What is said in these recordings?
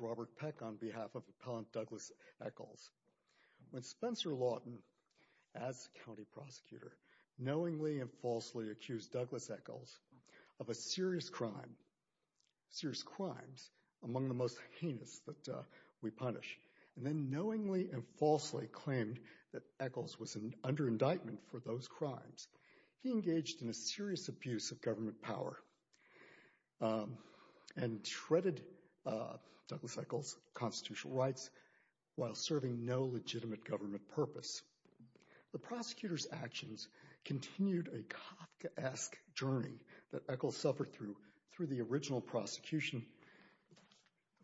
Robert Peck on behalf of Appellant Douglas Echols. When Spencer Lawton, as County Prosecutor, knowingly and falsely accused Douglas Echols of a serious crime, serious crimes, among the most heinous that we punish, and then knowingly and falsely claimed that Echols was under indictment for those crimes, he engaged in a serious abuse of government power and shredded Douglas Echols' constitutional rights while serving no legitimate government purpose. The prosecutor's actions continued a Kafkaesque journey that Echols suffered through, through the original prosecution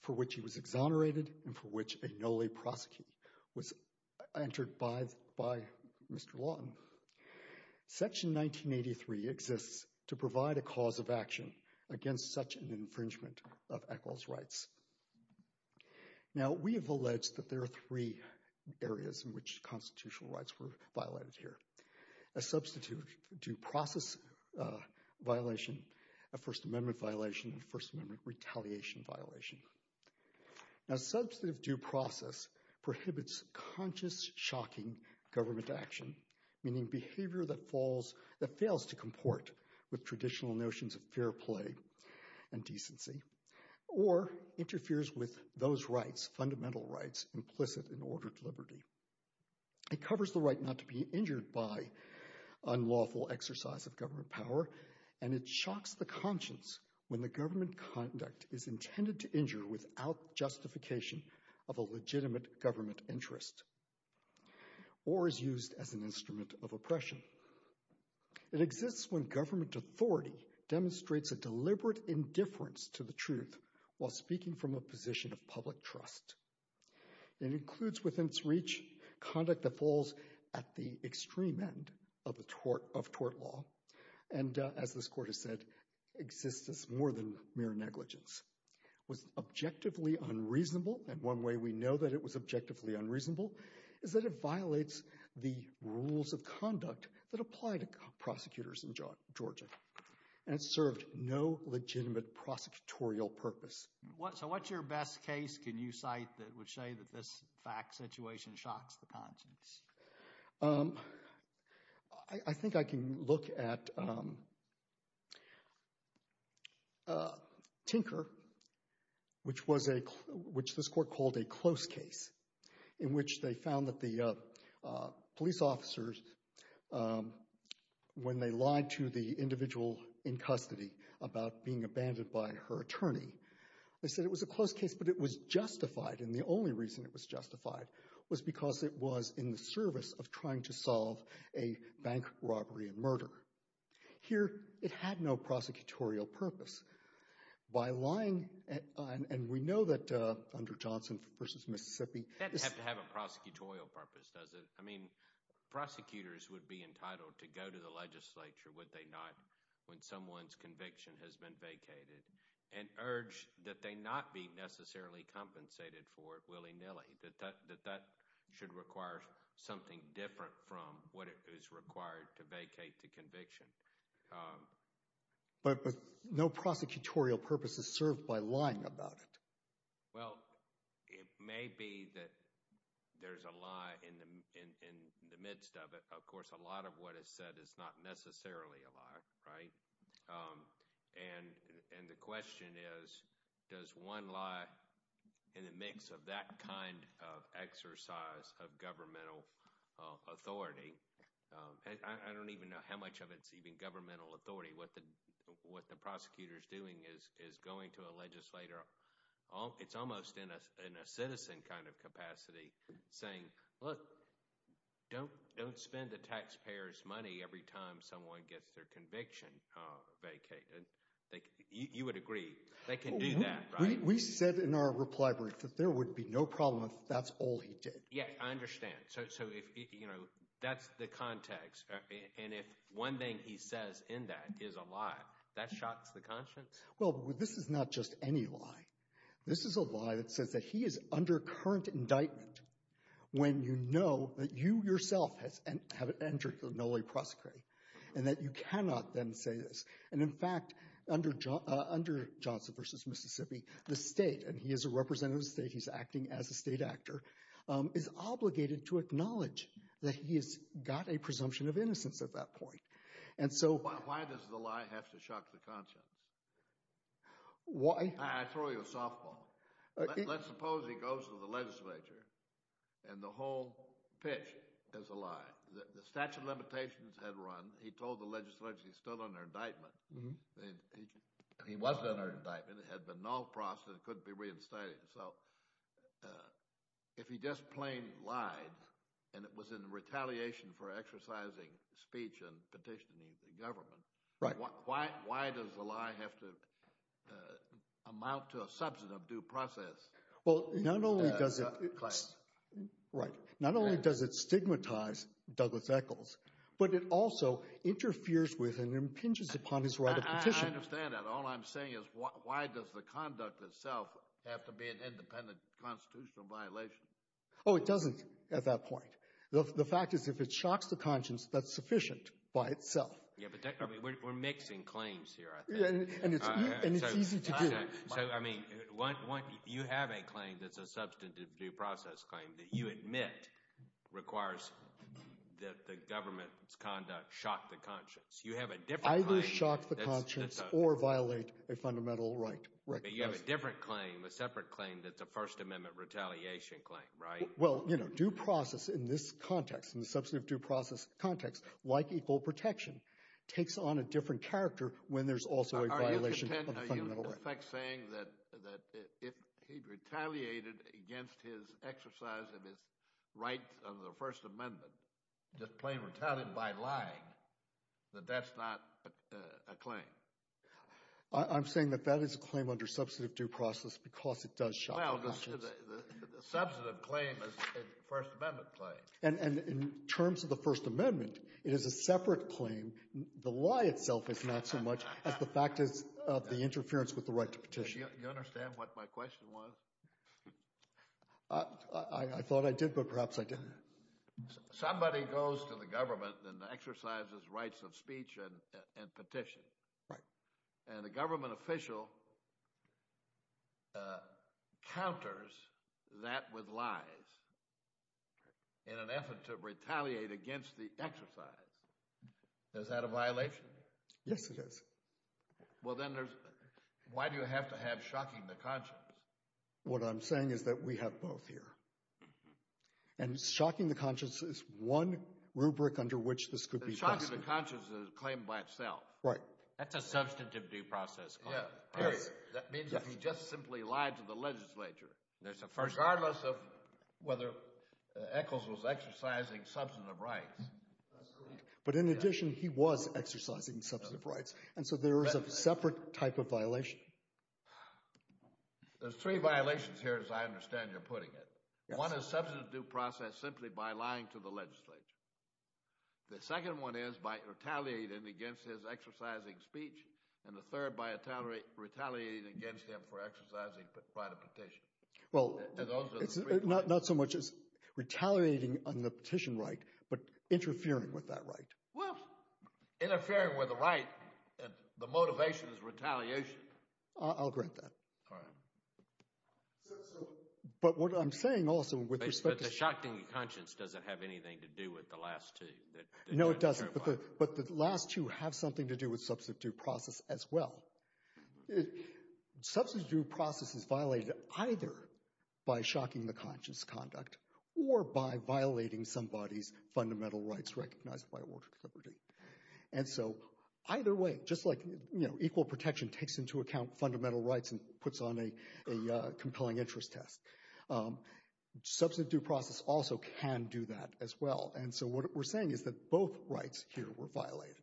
for which he was exonerated and for which a no-lay prosecutor was entered by Mr. Lawton. Section 1983 exists to provide a cause of action against such an infringement of Echols' rights. Now we have alleged that there are three areas in which constitutional rights were violated here. A substitute due process violation, a First Amendment violation, and First Amendment retaliation violation. Now substantive due process prohibits conscious shocking government action, meaning behavior that falls, that fails to comport with traditional notions of fair play and decency, or interferes with those rights, fundamental rights, implicit in ordered liberty. It covers the right not to be injured by unlawful exercise of government power, and it shocks the conscience when the government conduct is intended to injure without justification of a legitimate government interest, or is used as an instrument of oppression. It exists when government authority demonstrates a deliberate indifference to the truth while speaking from a position of public trust. It includes within its reach conduct that falls at the extreme end of tort law, and as this court has said, exists as more than mere negligence. It was objectively unreasonable, and one way we know that it was objectively unreasonable is that it violates the rules of conduct that apply to prosecutors in Georgia, and it served no legitimate prosecutorial purpose. So what's your best case can you cite that would say that this fact situation shocks the conscience? I think I can look at Tinker, which this court called a close case, in which they found that the police officers when they lied to the individual in custody about being abandoned by her attorney, they said it was a close case, but it was justified, and the only reason it was justified was because it was in the service of trying to solve a bank robbery and murder. Here it had no prosecutorial purpose. By lying, and we know that under Johnson versus Mississippi, That doesn't have to have a prosecutorial purpose, does it? I mean, prosecutors would be entitled to go to the legislature, would they not, when someone's conviction has been vacated, and urge that they not be necessarily compensated for it willy-nilly, that that should require something different from what is required to vacate the conviction. But no prosecutorial purpose is there's a lie in the in the midst of it. Of course, a lot of what is said is not necessarily a lie, right? And the question is, does one lie in the mix of that kind of exercise of governmental authority? I don't even know how much of it's even governmental authority. What the prosecutor's doing is going to a legislator, it's almost in a citizen kind of capacity, saying, look, don't spend the taxpayer's money every time someone gets their conviction vacated. You would agree they can do that, right? We said in our reply brief that there would be no problem if that's all he did. Yeah, I understand. So if, you know, that's the context, and if one thing he says in that is a lie, that shocks the conscience? Well, this is not just any lie. This is a lie that says that he is under current indictment when you know that you yourself have entered the no-lay prosecration, and that you cannot then say this. And in fact, under Johnson v. Mississippi, the state, and he is a representative of the state, he's acting as a state actor, is obligated to acknowledge that he has got a presumption of innocence at that point. Why does the lie have to shock the conscience? Why? I throw you a softball. Let's suppose he goes to the legislature, and the whole pitch is a lie. The statute of limitations had run, he told the legislature he's still under indictment. He wasn't under indictment, had been null-proced, and couldn't be reinstated. So if he just plain lied, and it was in retaliation for exercising speech and petitioning the government, why does the lie have to amount to a substantive due process? Well, not only does it stigmatize Douglas Echols, but it also interferes with and impinges upon his right of petition. I understand that. All I'm saying is, why does the conduct itself have to be an independent constitutional violation? Oh, it doesn't, at that point. The fact is, if it shocks the conscience, that's sufficient by itself. Yeah, but we're mixing claims here, I think. And it's easy to do. So, I mean, you have a claim that's a substantive due process claim that you admit requires that the government's violate a fundamental right. But you have a different claim, a separate claim, that's a First Amendment retaliation claim, right? Well, you know, due process in this context, in the substantive due process context, like equal protection, takes on a different character when there's also a violation of the fundamental right. Are you in effect saying that if he retaliated against his exercise of his right of the First Amendment, just plain retaliated by lying, that that's not a claim? I'm saying that that is a claim under substantive due process, because it does shock the conscience. Well, the substantive claim is a First Amendment claim. And in terms of the First Amendment, it is a separate claim. The lie itself is not so much as the fact is of the interference with the right to petition. You understand what my question was? I thought I did, but perhaps I didn't. Somebody goes to the government and exercises rights of speech and petition. Right. And the government official counters that with lies in an effort to retaliate against the exercise. Is that a violation? Yes, it is. Well, then there's, why do you have to have shocking the conscience? What I'm saying is that we have both here. And shocking the conscience is one rubric under which this could be. Shocking the conscience is a claim by itself. Right. That's a substantive due process. Yes. Period. That means that he just simply lied to the legislature. Regardless of whether Echols was exercising substantive rights. But in addition, he was exercising substantive rights. And so there is a separate type of violation. There's three violations here, as I understand you're putting it. One is substantive due process simply by lying to the legislature. The second one is by retaliating against his exercising speech. And the third by retaliating against him for exercising by the petition. Well, it's not so much as retaliating on the petition right, but interfering with that right. Well, interfering with the right and the motivation is retaliation. I'll grant that. All right. So, but what I'm saying also the shocking conscience doesn't have anything to do with the last two. No, it doesn't. But the last two have something to do with substantive due process as well. Substantive due process is violated either by shocking the conscience conduct or by violating somebody's fundamental rights recognized by order of liberty. And so either way, just like, you know, equal protection takes into account fundamental rights and puts on a compelling interest test. Substantive due process also can do that as well. And so what we're saying is that both rights here were violated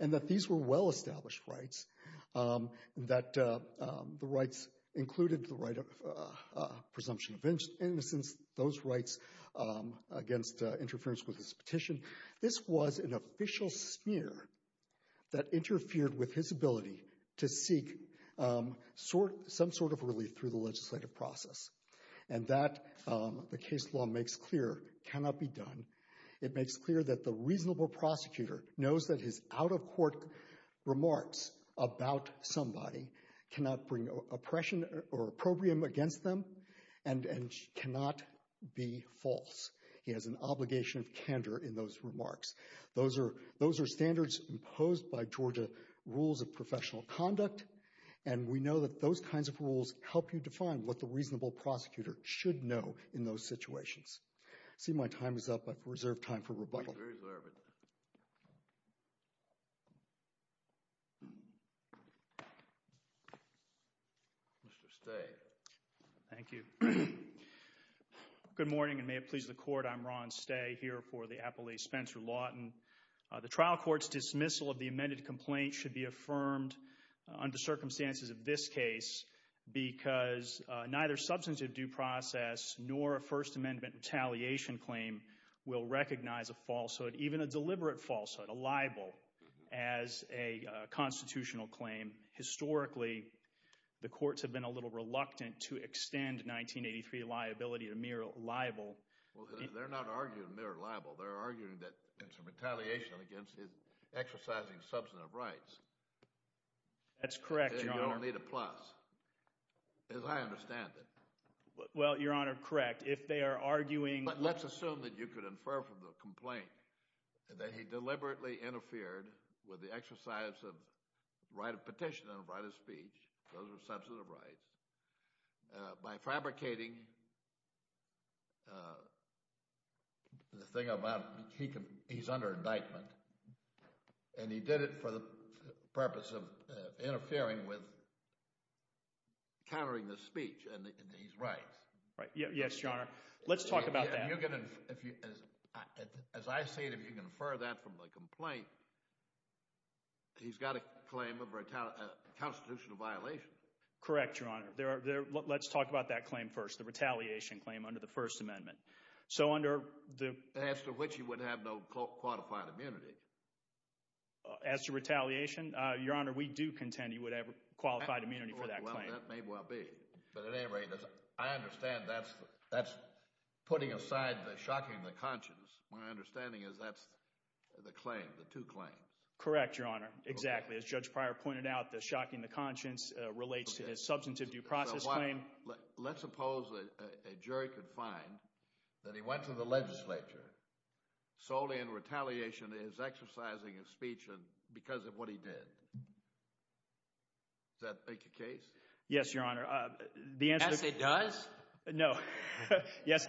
and that these were well-established rights, that the rights included the right of presumption of innocence, those rights against interference with his petition. This was an official smear that interfered with his ability to seek some sort of relief through the legislative process. And that, the case law makes clear, cannot be done. It makes clear that the reasonable prosecutor knows that his out-of-court remarks about somebody cannot bring oppression or opprobrium against them and cannot be false. He has an obligation of candor in those remarks. Those are standards imposed by Georgia rules of professional conduct. And we know that those kinds of rules help you define what the reasonable prosecutor should know in those situations. I see my time is up. I've reserved time for rebuttal. Mr. Stay. Thank you. Good morning and may it please the Court, I'm Ron Stay here for the Appellee Spencer Lawton. The trial court's dismissal of the amended complaint should be affirmed under circumstances of this case because neither substantive due process nor a First Amendment retaliation claim will recognize a falsehood, even a deliberate falsehood, a libel, as a constitutional claim. Historically, the courts have been a little reluctant to extend 1983 liability to mere libel. They're not arguing mere libel. They're arguing that it's a retaliation against his exercising substantive rights. That's correct, Your Honor. You don't need a plus, as I understand it. Well, Your Honor, correct. If they are arguing... But let's assume that you could infer from the complaint that he deliberately interfered with the exercise of right of petition and right of speech. Those are substantive rights. By fabricating the thing about he's under indictment and he did it for the purpose of interfering with countering the speech and he's right. Right. Yes, Your Honor. Let's talk about that. As I see it, if you infer that from the complaint, he's got a claim of a constitutional violation. Correct, Your Honor. Let's talk about that claim first, the retaliation claim under the First Amendment. So under the... As to which he would have no qualified immunity. As to retaliation, Your Honor, we do contend he would have qualified immunity for that claim. That may well be. But at any rate, I understand that's putting aside the shocking the conscience. My understanding is that's the claim, the two claims. Correct, Your Honor. Exactly. As Judge Pryor pointed out, the shocking the conscience relates to his a jury could find that he went to the legislature solely in retaliation is exercising his speech because of what he did. Does that make a case? Yes, Your Honor. The answer... Yes, it does? No. Yes,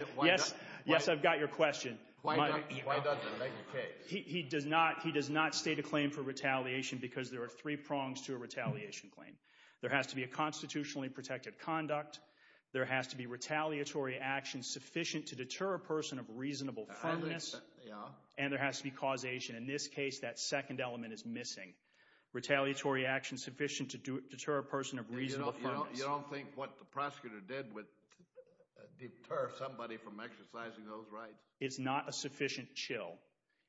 I've got your question. Why doesn't it make a case? He does not state a claim for retaliation because there are three prongs to a retaliation claim. There has to be a constitutionally conduct. There has to be retaliatory action sufficient to deter a person of reasonable firmness. And there has to be causation. In this case, that second element is missing. Retaliatory action sufficient to deter a person of reasonable firmness. You don't think what the prosecutor did would deter somebody from exercising those rights? It's not a sufficient chill.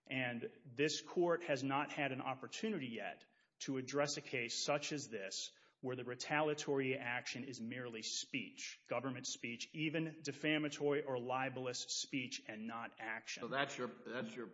And this court has not had an opportunity yet to address a case such as this where the retaliatory action is merely speech, government speech, even defamatory or libelous speech and not action. So that's your that's your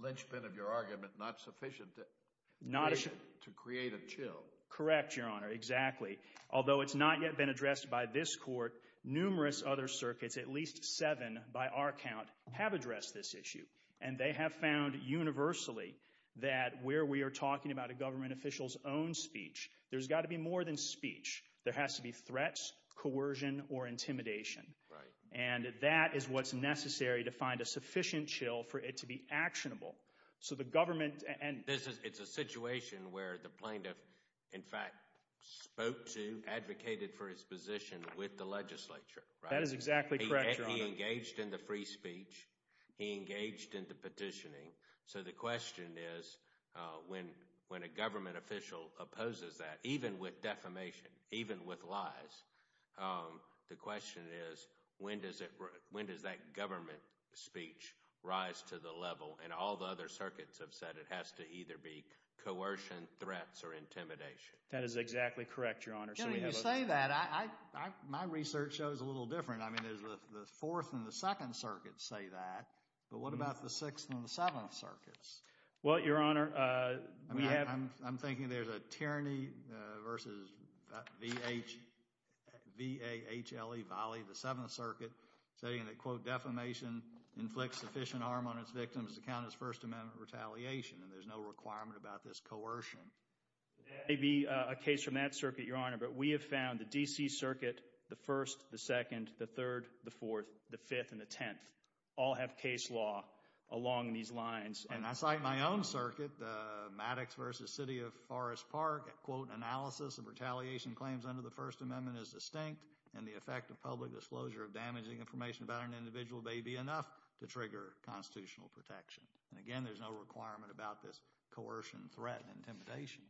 linchpin of your argument, not sufficient to create a chill? Correct, Your Honor. Exactly. Although it's not yet been addressed by this court, numerous other circuits, at least seven by our count, have addressed this issue. And they have found universally that where we are talking about a government official's own speech, there's got to be more than speech. There has to be threats, coercion or intimidation. Right. And that is what's necessary to find a sufficient chill for it to be actionable. So the government and this is it's a situation where the plaintiff, in fact, spoke to, advocated for his position with the legislature. That is exactly correct. He engaged in the free speech. He engaged in the petitioning. So the question is when when a government official opposes that, even with defamation, even with lies, the question is when does it when does that government speech rise to the level? And all the other circuits have said it has to either be coercion, threats or intimidation. That is exactly correct, Your Honor. So when you say that, my research shows a little different. I mean, there's the Fourth and the Second Circuit say that. But what about the Sixth and the Seventh Circuits? Well, Your Honor, we have I'm thinking there's a tyranny versus V.H. V.A.H.L.E. Valley, the Seventh Circuit, saying that, quote, defamation inflicts sufficient harm on its victims to count as First Amendment retaliation. And there's no requirement about this coercion. There may be a case from that circuit, Your Honor, but we have found the D.C. Circuit, the First, the Second, the Third, the Fourth, the Fifth and the Tenth all have case law along these lines. And I cite my own circuit, Maddox v. City of Forest Park, quote, analysis of retaliation claims under the First Amendment is distinct and the effect of public disclosure of damaging information about an individual may be enough to trigger constitutional protection. And again, there's no requirement about this coercion, threat and intimidation.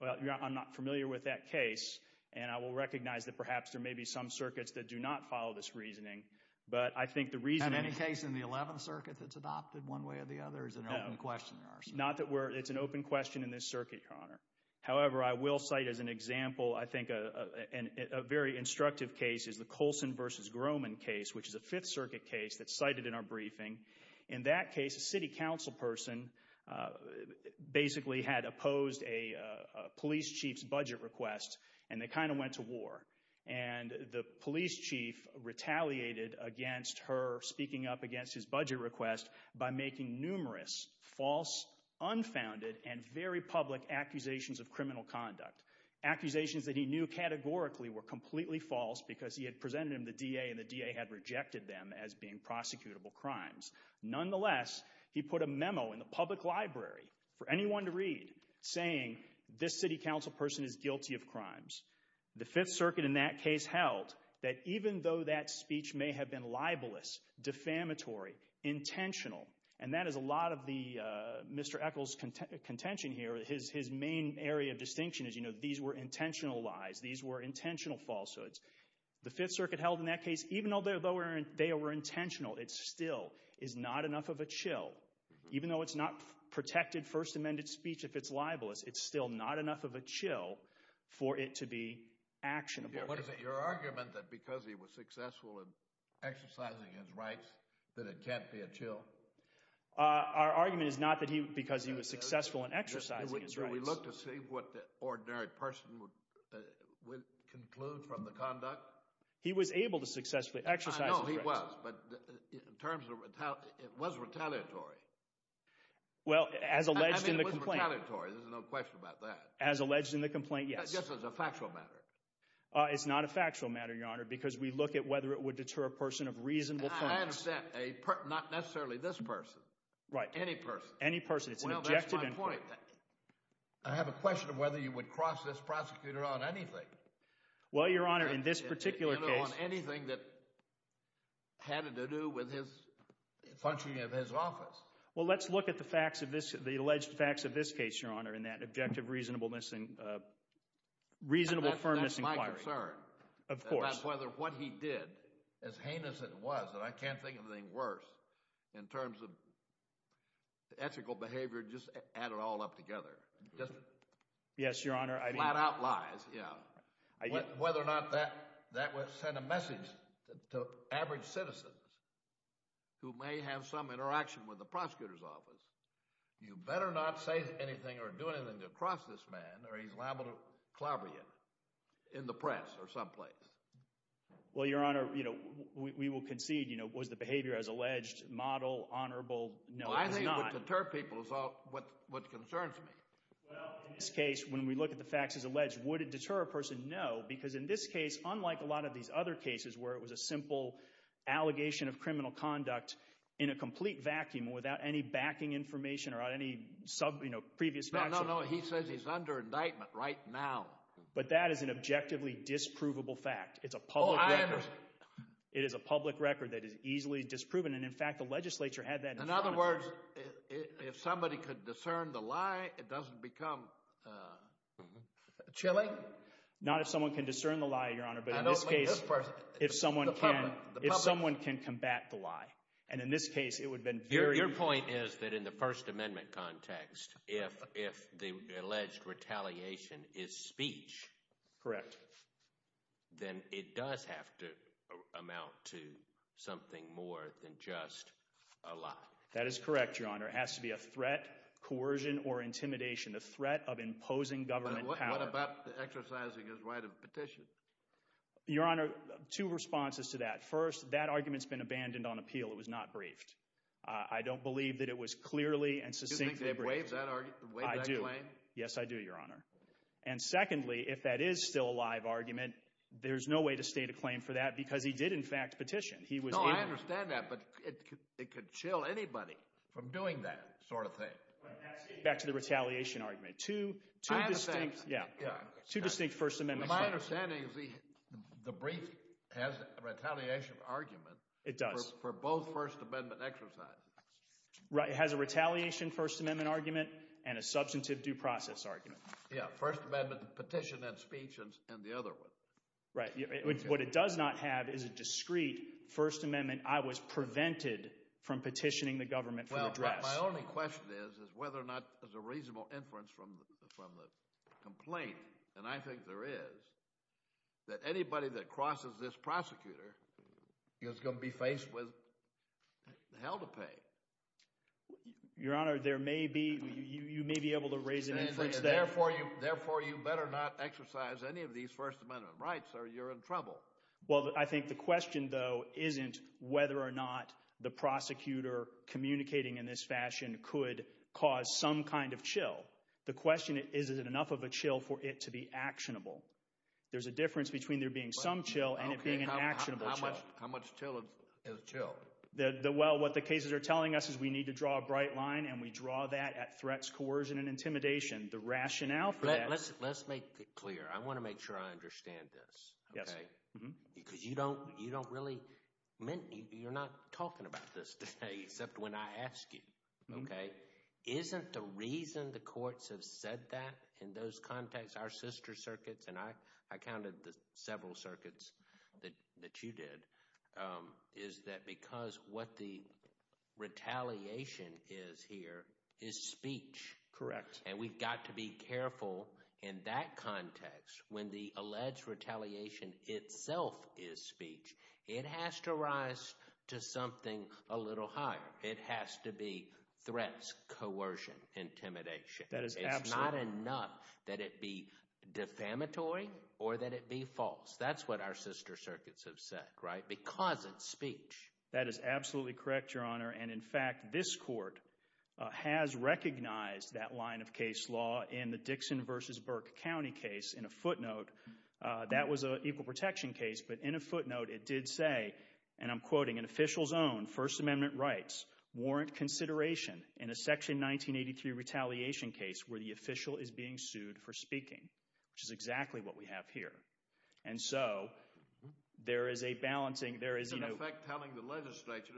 Well, I'm not familiar with that case. And I will recognize that perhaps there may be some circuits that do not follow this reasoning. But I think the reason in any case in the Eleventh Circuit that's adopted one way or the other is an open question. Not that it's an open question in this circuit, Your Honor. However, I will cite as an example, I think, a very instructive case is the Colson v. Grohman case, which is a Fifth Circuit case that's cited in our briefing. In that case, a city council person basically had opposed a police chief's budget request and they kind of went to war. And the police chief retaliated against her speaking up against his budget request by making numerous false, unfounded and very public accusations of criminal conduct. Accusations that he knew categorically were completely false because he had presented them to the D.A. and the D.A. had crimes. Nonetheless, he put a memo in the public library for anyone to read saying, this city council person is guilty of crimes. The Fifth Circuit in that case held that even though that speech may have been libelous, defamatory, intentional, and that is a lot of the Mr. Eccles' contention here. His main area of distinction is, you know, these were intentional lies. These were intentional falsehoods. The Fifth Circuit held in that case, even though they were intentional, it still is not enough of a chill. Even though it's not protected First Amendment speech if it's libelous, it's still not enough of a chill for it to be actionable. What is it, your argument that because he was successful in exercising his rights that it can't be a chill? Our argument is not that he, because he was successful in exercising his rights. Do we look to see what the ordinary person would conclude from the conduct? He was able to exercise his rights. I know he was, but in terms of, it was retaliatory. Well, as alleged in the complaint. I mean, it was retaliatory. There's no question about that. As alleged in the complaint, yes. Just as a factual matter. It's not a factual matter, your Honor, because we look at whether it would deter a person of reasonable points. I understand. Not necessarily this person. Right. Any person. Any person. It's an objective inquiry. Well, that's my point. I have a question of whether you would cross this prosecutor on anything. Well, your Honor, in this particular case. Anything that had to do with his functioning of his office. Well, let's look at the facts of this, the alleged facts of this case, your Honor, in that objective reasonableness and reasonable firmness inquiry. That's my concern. Of course. That's whether what he did, as heinous as it was, and I can't think of anything worse in terms of whether or not that would send a message to average citizens who may have some interaction with the prosecutor's office. You better not say anything or do anything to cross this man or he's liable to clobber you in the press or someplace. Well, your Honor, you know, we will concede, you know, was the behavior as alleged model, honorable? No, it's not. I think it would deter people is what concerns me. Well, in this case, when we look at the facts as alleged, would it deter a person? No, because in this case, unlike a lot of these other cases where it was a simple allegation of criminal conduct in a complete vacuum without any backing information or any sub, you know, previous facts. No, no, no. He says he's under indictment right now. But that is an objectively disprovable fact. It's a public record. It is a public record that is easily disproven. And in fact, the legislature had that. In other words, if somebody could discern the lie, it doesn't become chilling. Not if someone can discern the lie, Your Honor. But in this case, if someone can, if someone can combat the lie. And in this case, it would have been very. Your point is that in the First Amendment context, if the alleged retaliation is speech. Correct. Then it does have to amount to something more than just a lie. That is correct, Your Honor. It has to be a threat, coercion, or intimidation, a threat of imposing government power. What about exercising his right of petition? Your Honor, two responses to that. First, that argument's been abandoned on appeal. It was not briefed. I don't believe that it was clearly and succinctly briefed. Do you think they've waived that claim? I do. Yes, I do, Your Honor. And secondly, if that is still a live argument, there's no way to state a claim for that because he did, in fact, petition. No, I understand that, but it could chill anybody from doing that sort of thing. Back to the retaliation argument. Two distinct First Amendment claims. My understanding is the brief has a retaliation argument for both First Amendment exercises. Right, it has a retaliation First Amendment argument and a substantive due process argument. Yeah, First Amendment is discreet. First Amendment, I was prevented from petitioning the government for the dress. My only question is whether or not there's a reasonable inference from the complaint, and I think there is, that anybody that crosses this prosecutor is going to be faced with hell to pay. Your Honor, there may be, you may be able to raise an inference there. Therefore, you better not exercise any of these First Amendment rights or you're in trouble. Well, I think the question, though, isn't whether or not the prosecutor communicating in this fashion could cause some kind of chill. The question is, is it enough of a chill for it to be actionable? There's a difference between there being some chill and it being an actionable chill. How much chill is chill? Well, what the cases are telling us is we need to draw a bright line, and we draw that at threats, coercion, and intimidation. The rationale for that... Let's make it clear. I want to make sure I understand this, okay? Because you don't really, you're not talking about this today except when I ask you, okay? Isn't the reason the courts have said that in those contexts, our sister circuits, and I counted the several circuits that you did, is that because what the retaliation is here is speech. Correct. And we've got to be careful in that context when the alleged retaliation itself is speech. It has to rise to something a little higher. It has to be threats, coercion, intimidation. It's not enough that it be defamatory or that it be false. That's what our sister circuits have said, right? Because it's speech. That is absolutely correct, Your Honor. And in fact, this court has recognized that line of case law in the Dixon v. Burke County case in a footnote. That was an equal protection case, but in a footnote it did say, and I'm quoting, an official's own First Amendment rights warrant consideration in a Section 1983 retaliation case where the official is being sued for speaking, which is exactly what we have here. And so, there is a balancing... There is an effect telling the legislature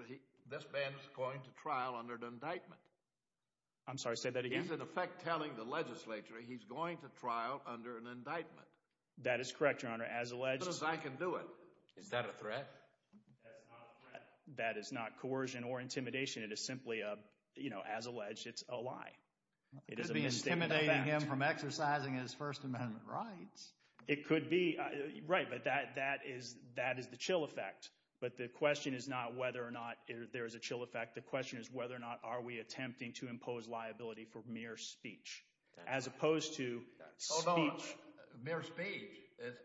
this man is going to trial under an indictment. I'm sorry, say that again. There is an effect telling the legislature he's going to trial under an indictment. That is correct, Your Honor. As alleged... As good as I can do it. Is that a threat? That's not a threat. That is not coercion or intimidation. It is simply a, you know, as alleged, it's a lie. It is a mistaken fact. It could be intimidating him from exercising his First Amendment rights. It could be, right, but that is the chill effect. But the question is not whether or not there is a chill effect. The question is whether or not are we attempting to impose liability for mere speech as opposed to speech... Hold on. Mere speech?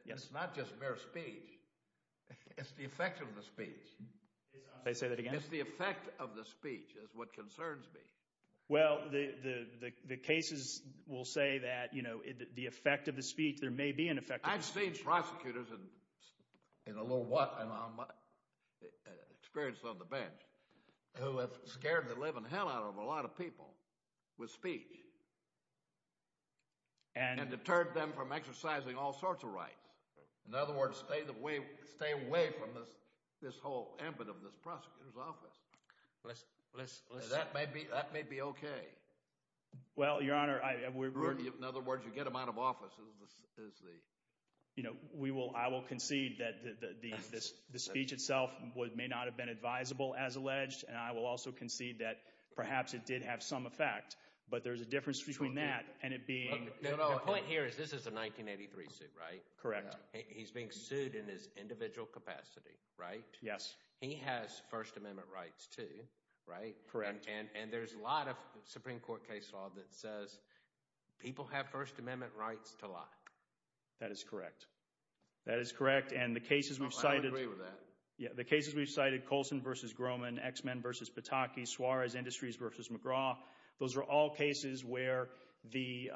Yes. It's not just mere speech. It's the effect of the speech. Say that again. It's the effect of the speech is what concerns me. Well, the cases will say that, you know, the effect of the speech, there may be an effect... I've seen prosecutors in a little while, and I'm experienced on the bench, who have scared the living hell out of a lot of people with speech and deterred them from exercising all sorts of rights. In other words, stay the way, stay away from this, this whole ambit of this prosecutor's office. That may be, that may be okay. Well, Your Honor, I... In other words, you get them out of office is the... You know, we will, I will concede that the speech itself may not have been advisable as alleged, and I will also concede that perhaps it did have some effect, but there's a difference between that and it being... The point here is this is a 1983 suit, right? Correct. He's being sued in his individual capacity, right? Yes. He has First Amendment rights too, right? Correct. And there's a lot of Supreme Court case law that says people have First Amendment rights to lie. That is correct. That is correct, and the cases we've cited... I agree with that. Yeah, the cases we've cited, Coulson v. Grohman, X-Men v. Pataki, Suarez Industries v. McGraw, those are all cases where the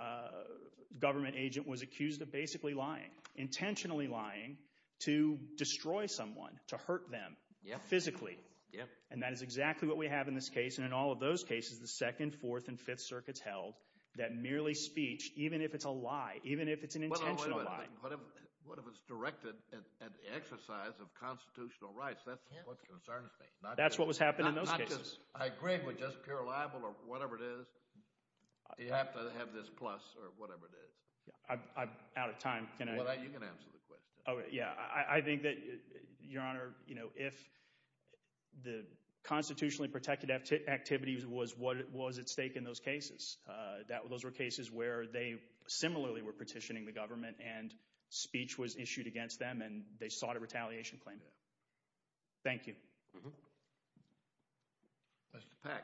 government agent was accused of basically lying, intentionally lying to destroy someone, to hurt them physically. Yep. And that is exactly what we have in this case, and in all of those cases, the Second, Fourth, and Fifth Circuits held that merely speech, even if it's a lie, even if it's an intentional lie... What if it's directed at the exercise of constitutional rights? That's what concerns me. That's what was happening in those cases. I agree with just pure libel or whatever it is. You have to have this plus or whatever it is. I'm out of time. You can answer the question. Oh, yeah. I think that, Your Honor, if the constitutionally protected activity was at stake in those cases, those were cases where they similarly were petitioning the government, and speech was issued against them, and they sought a retaliation claim. Thank you. Justice Pack.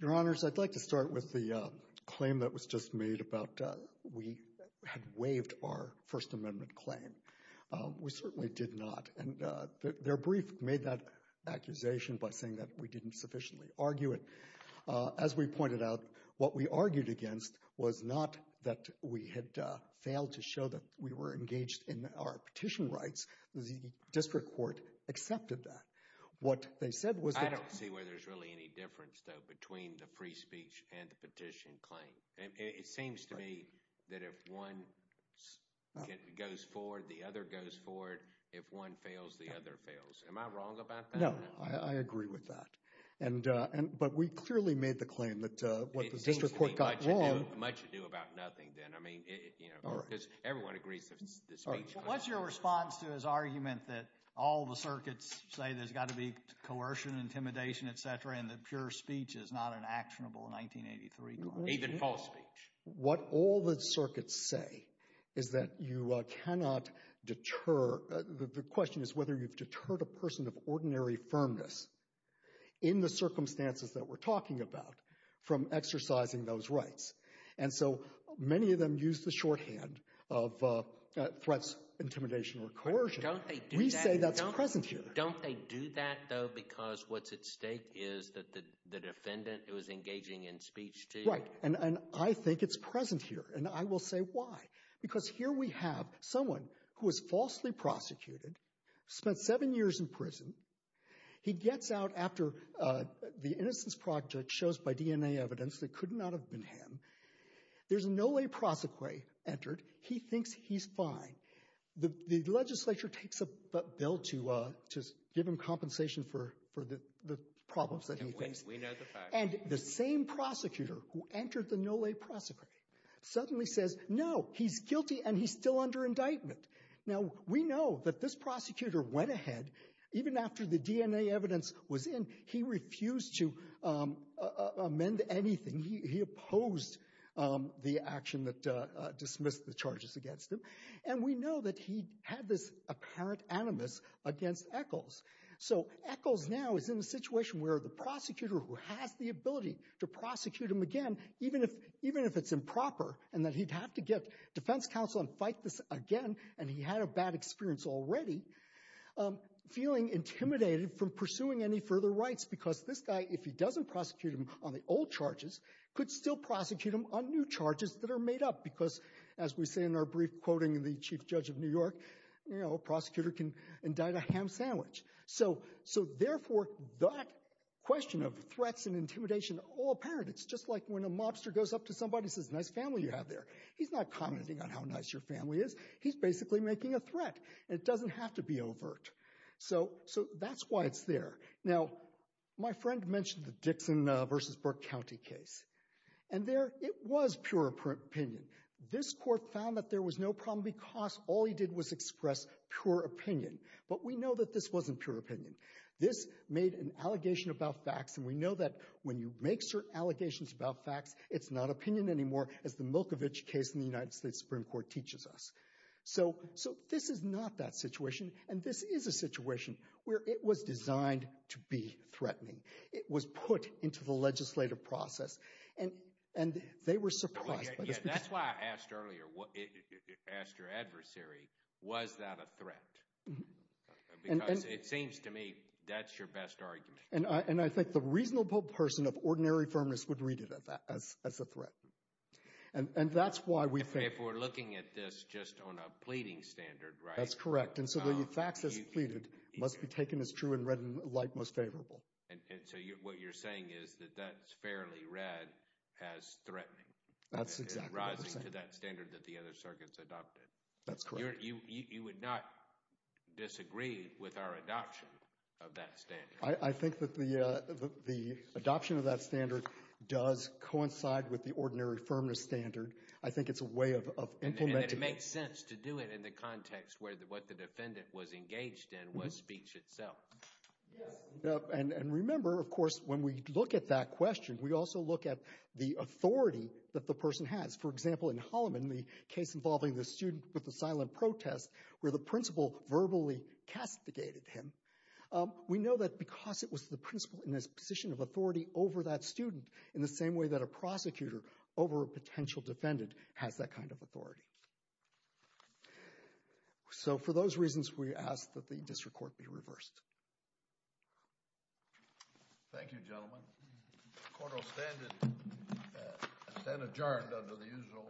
Your Honors, I'd like to start with the claim that was just made about we had waived our First Amendment claim. We certainly did not, and their brief made that accusation by saying that we insufficiently argue it. As we pointed out, what we argued against was not that we had failed to show that we were engaged in our petition rights. The district court accepted that. What they said was that... I don't see where there's really any difference, though, between the free speech and the petition claim. It seems to me that if one goes forward, the other goes forward. If one fails, the other fails. Am I wrong about that? No, I agree with that, but we clearly made the claim that what the district court got wrong... It seems to me much ado about nothing, then. I mean, because everyone agrees that the speech... What's your response to his argument that all the circuits say there's got to be coercion, intimidation, etc., and that pure speech is not an actionable 1983 claim? Even false speech. What all the circuits say is that you cannot deter... The question is whether you've deterred a person of ordinary firmness in the circumstances that we're talking about from exercising those rights. And so many of them use the shorthand of threats, intimidation, or coercion. Don't they do that? We say that's present here. Don't they do that, though, because what's at stake is that the defendant who is engaging in speech to... Right, and I think it's present here, and I will say why. Because here we have someone who was falsely prosecuted, spent seven years in prison. He gets out after the innocence project shows by DNA evidence that could not have been him. There's a no-lay prosecutor entered. He thinks he's fine. The legislature takes a bill to give him compensation for the problems that he thinks... And we know the facts. And the same prosecutor who entered the indictment. Now, we know that this prosecutor went ahead. Even after the DNA evidence was in, he refused to amend anything. He opposed the action that dismissed the charges against him. And we know that he had this apparent animus against Echols. So Echols now is in a situation where the prosecutor who has the ability to prosecute him again, even if it's improper, and that he'd have to get defense counsel and fight this again, and he had a bad experience already, feeling intimidated from pursuing any further rights. Because this guy, if he doesn't prosecute him on the old charges, could still prosecute him on new charges that are made up. Because, as we say in our brief quoting in the Chief Judge of New York, a prosecutor can indict a ham sandwich. So therefore, that question of threats and intimidation, all apparent. It's just when a mobster goes up to somebody and says, nice family you have there. He's not commenting on how nice your family is. He's basically making a threat. It doesn't have to be overt. So that's why it's there. Now, my friend mentioned the Dixon versus Burke County case. And there, it was pure opinion. This court found that there was no problem because all he did was express pure opinion. But we know that this wasn't pure opinion. This made an allegation about facts. And we know that when you make certain allegations about facts, it's not opinion anymore, as the Milkovich case in the United States Supreme Court teaches us. So this is not that situation. And this is a situation where it was designed to be threatening. It was put into the legislative process. And they were surprised. Yeah, that's why I asked earlier, asked your question. And I think the reasonable person of ordinary firmness would read it as a threat. And that's why we think... If we're looking at this just on a pleading standard, right? That's correct. And so the facts as pleaded must be taken as true and read like most favorable. And so what you're saying is that that's fairly read as threatening. That's exactly what I'm saying. It's rising to that standard that the other circuits adopted. That's correct. You would not disagree with our adoption of that standard. I think that the adoption of that standard does coincide with the ordinary firmness standard. I think it's a way of implementing... And it makes sense to do it in the context where what the defendant was engaged in was speech itself. Yes. And remember, of course, when we look at that question, we also look at the authority that the person has. For example, in Holloman, the case involving the student with the silent protest, where the principal verbally castigated him. We know that because it was the principal in this position of authority over that student, in the same way that a prosecutor over a potential defendant has that kind of authority. So for those reasons, we ask that the district court be reversed. Thank you, gentlemen. The court will stand adjourned under the usual order. Thank you.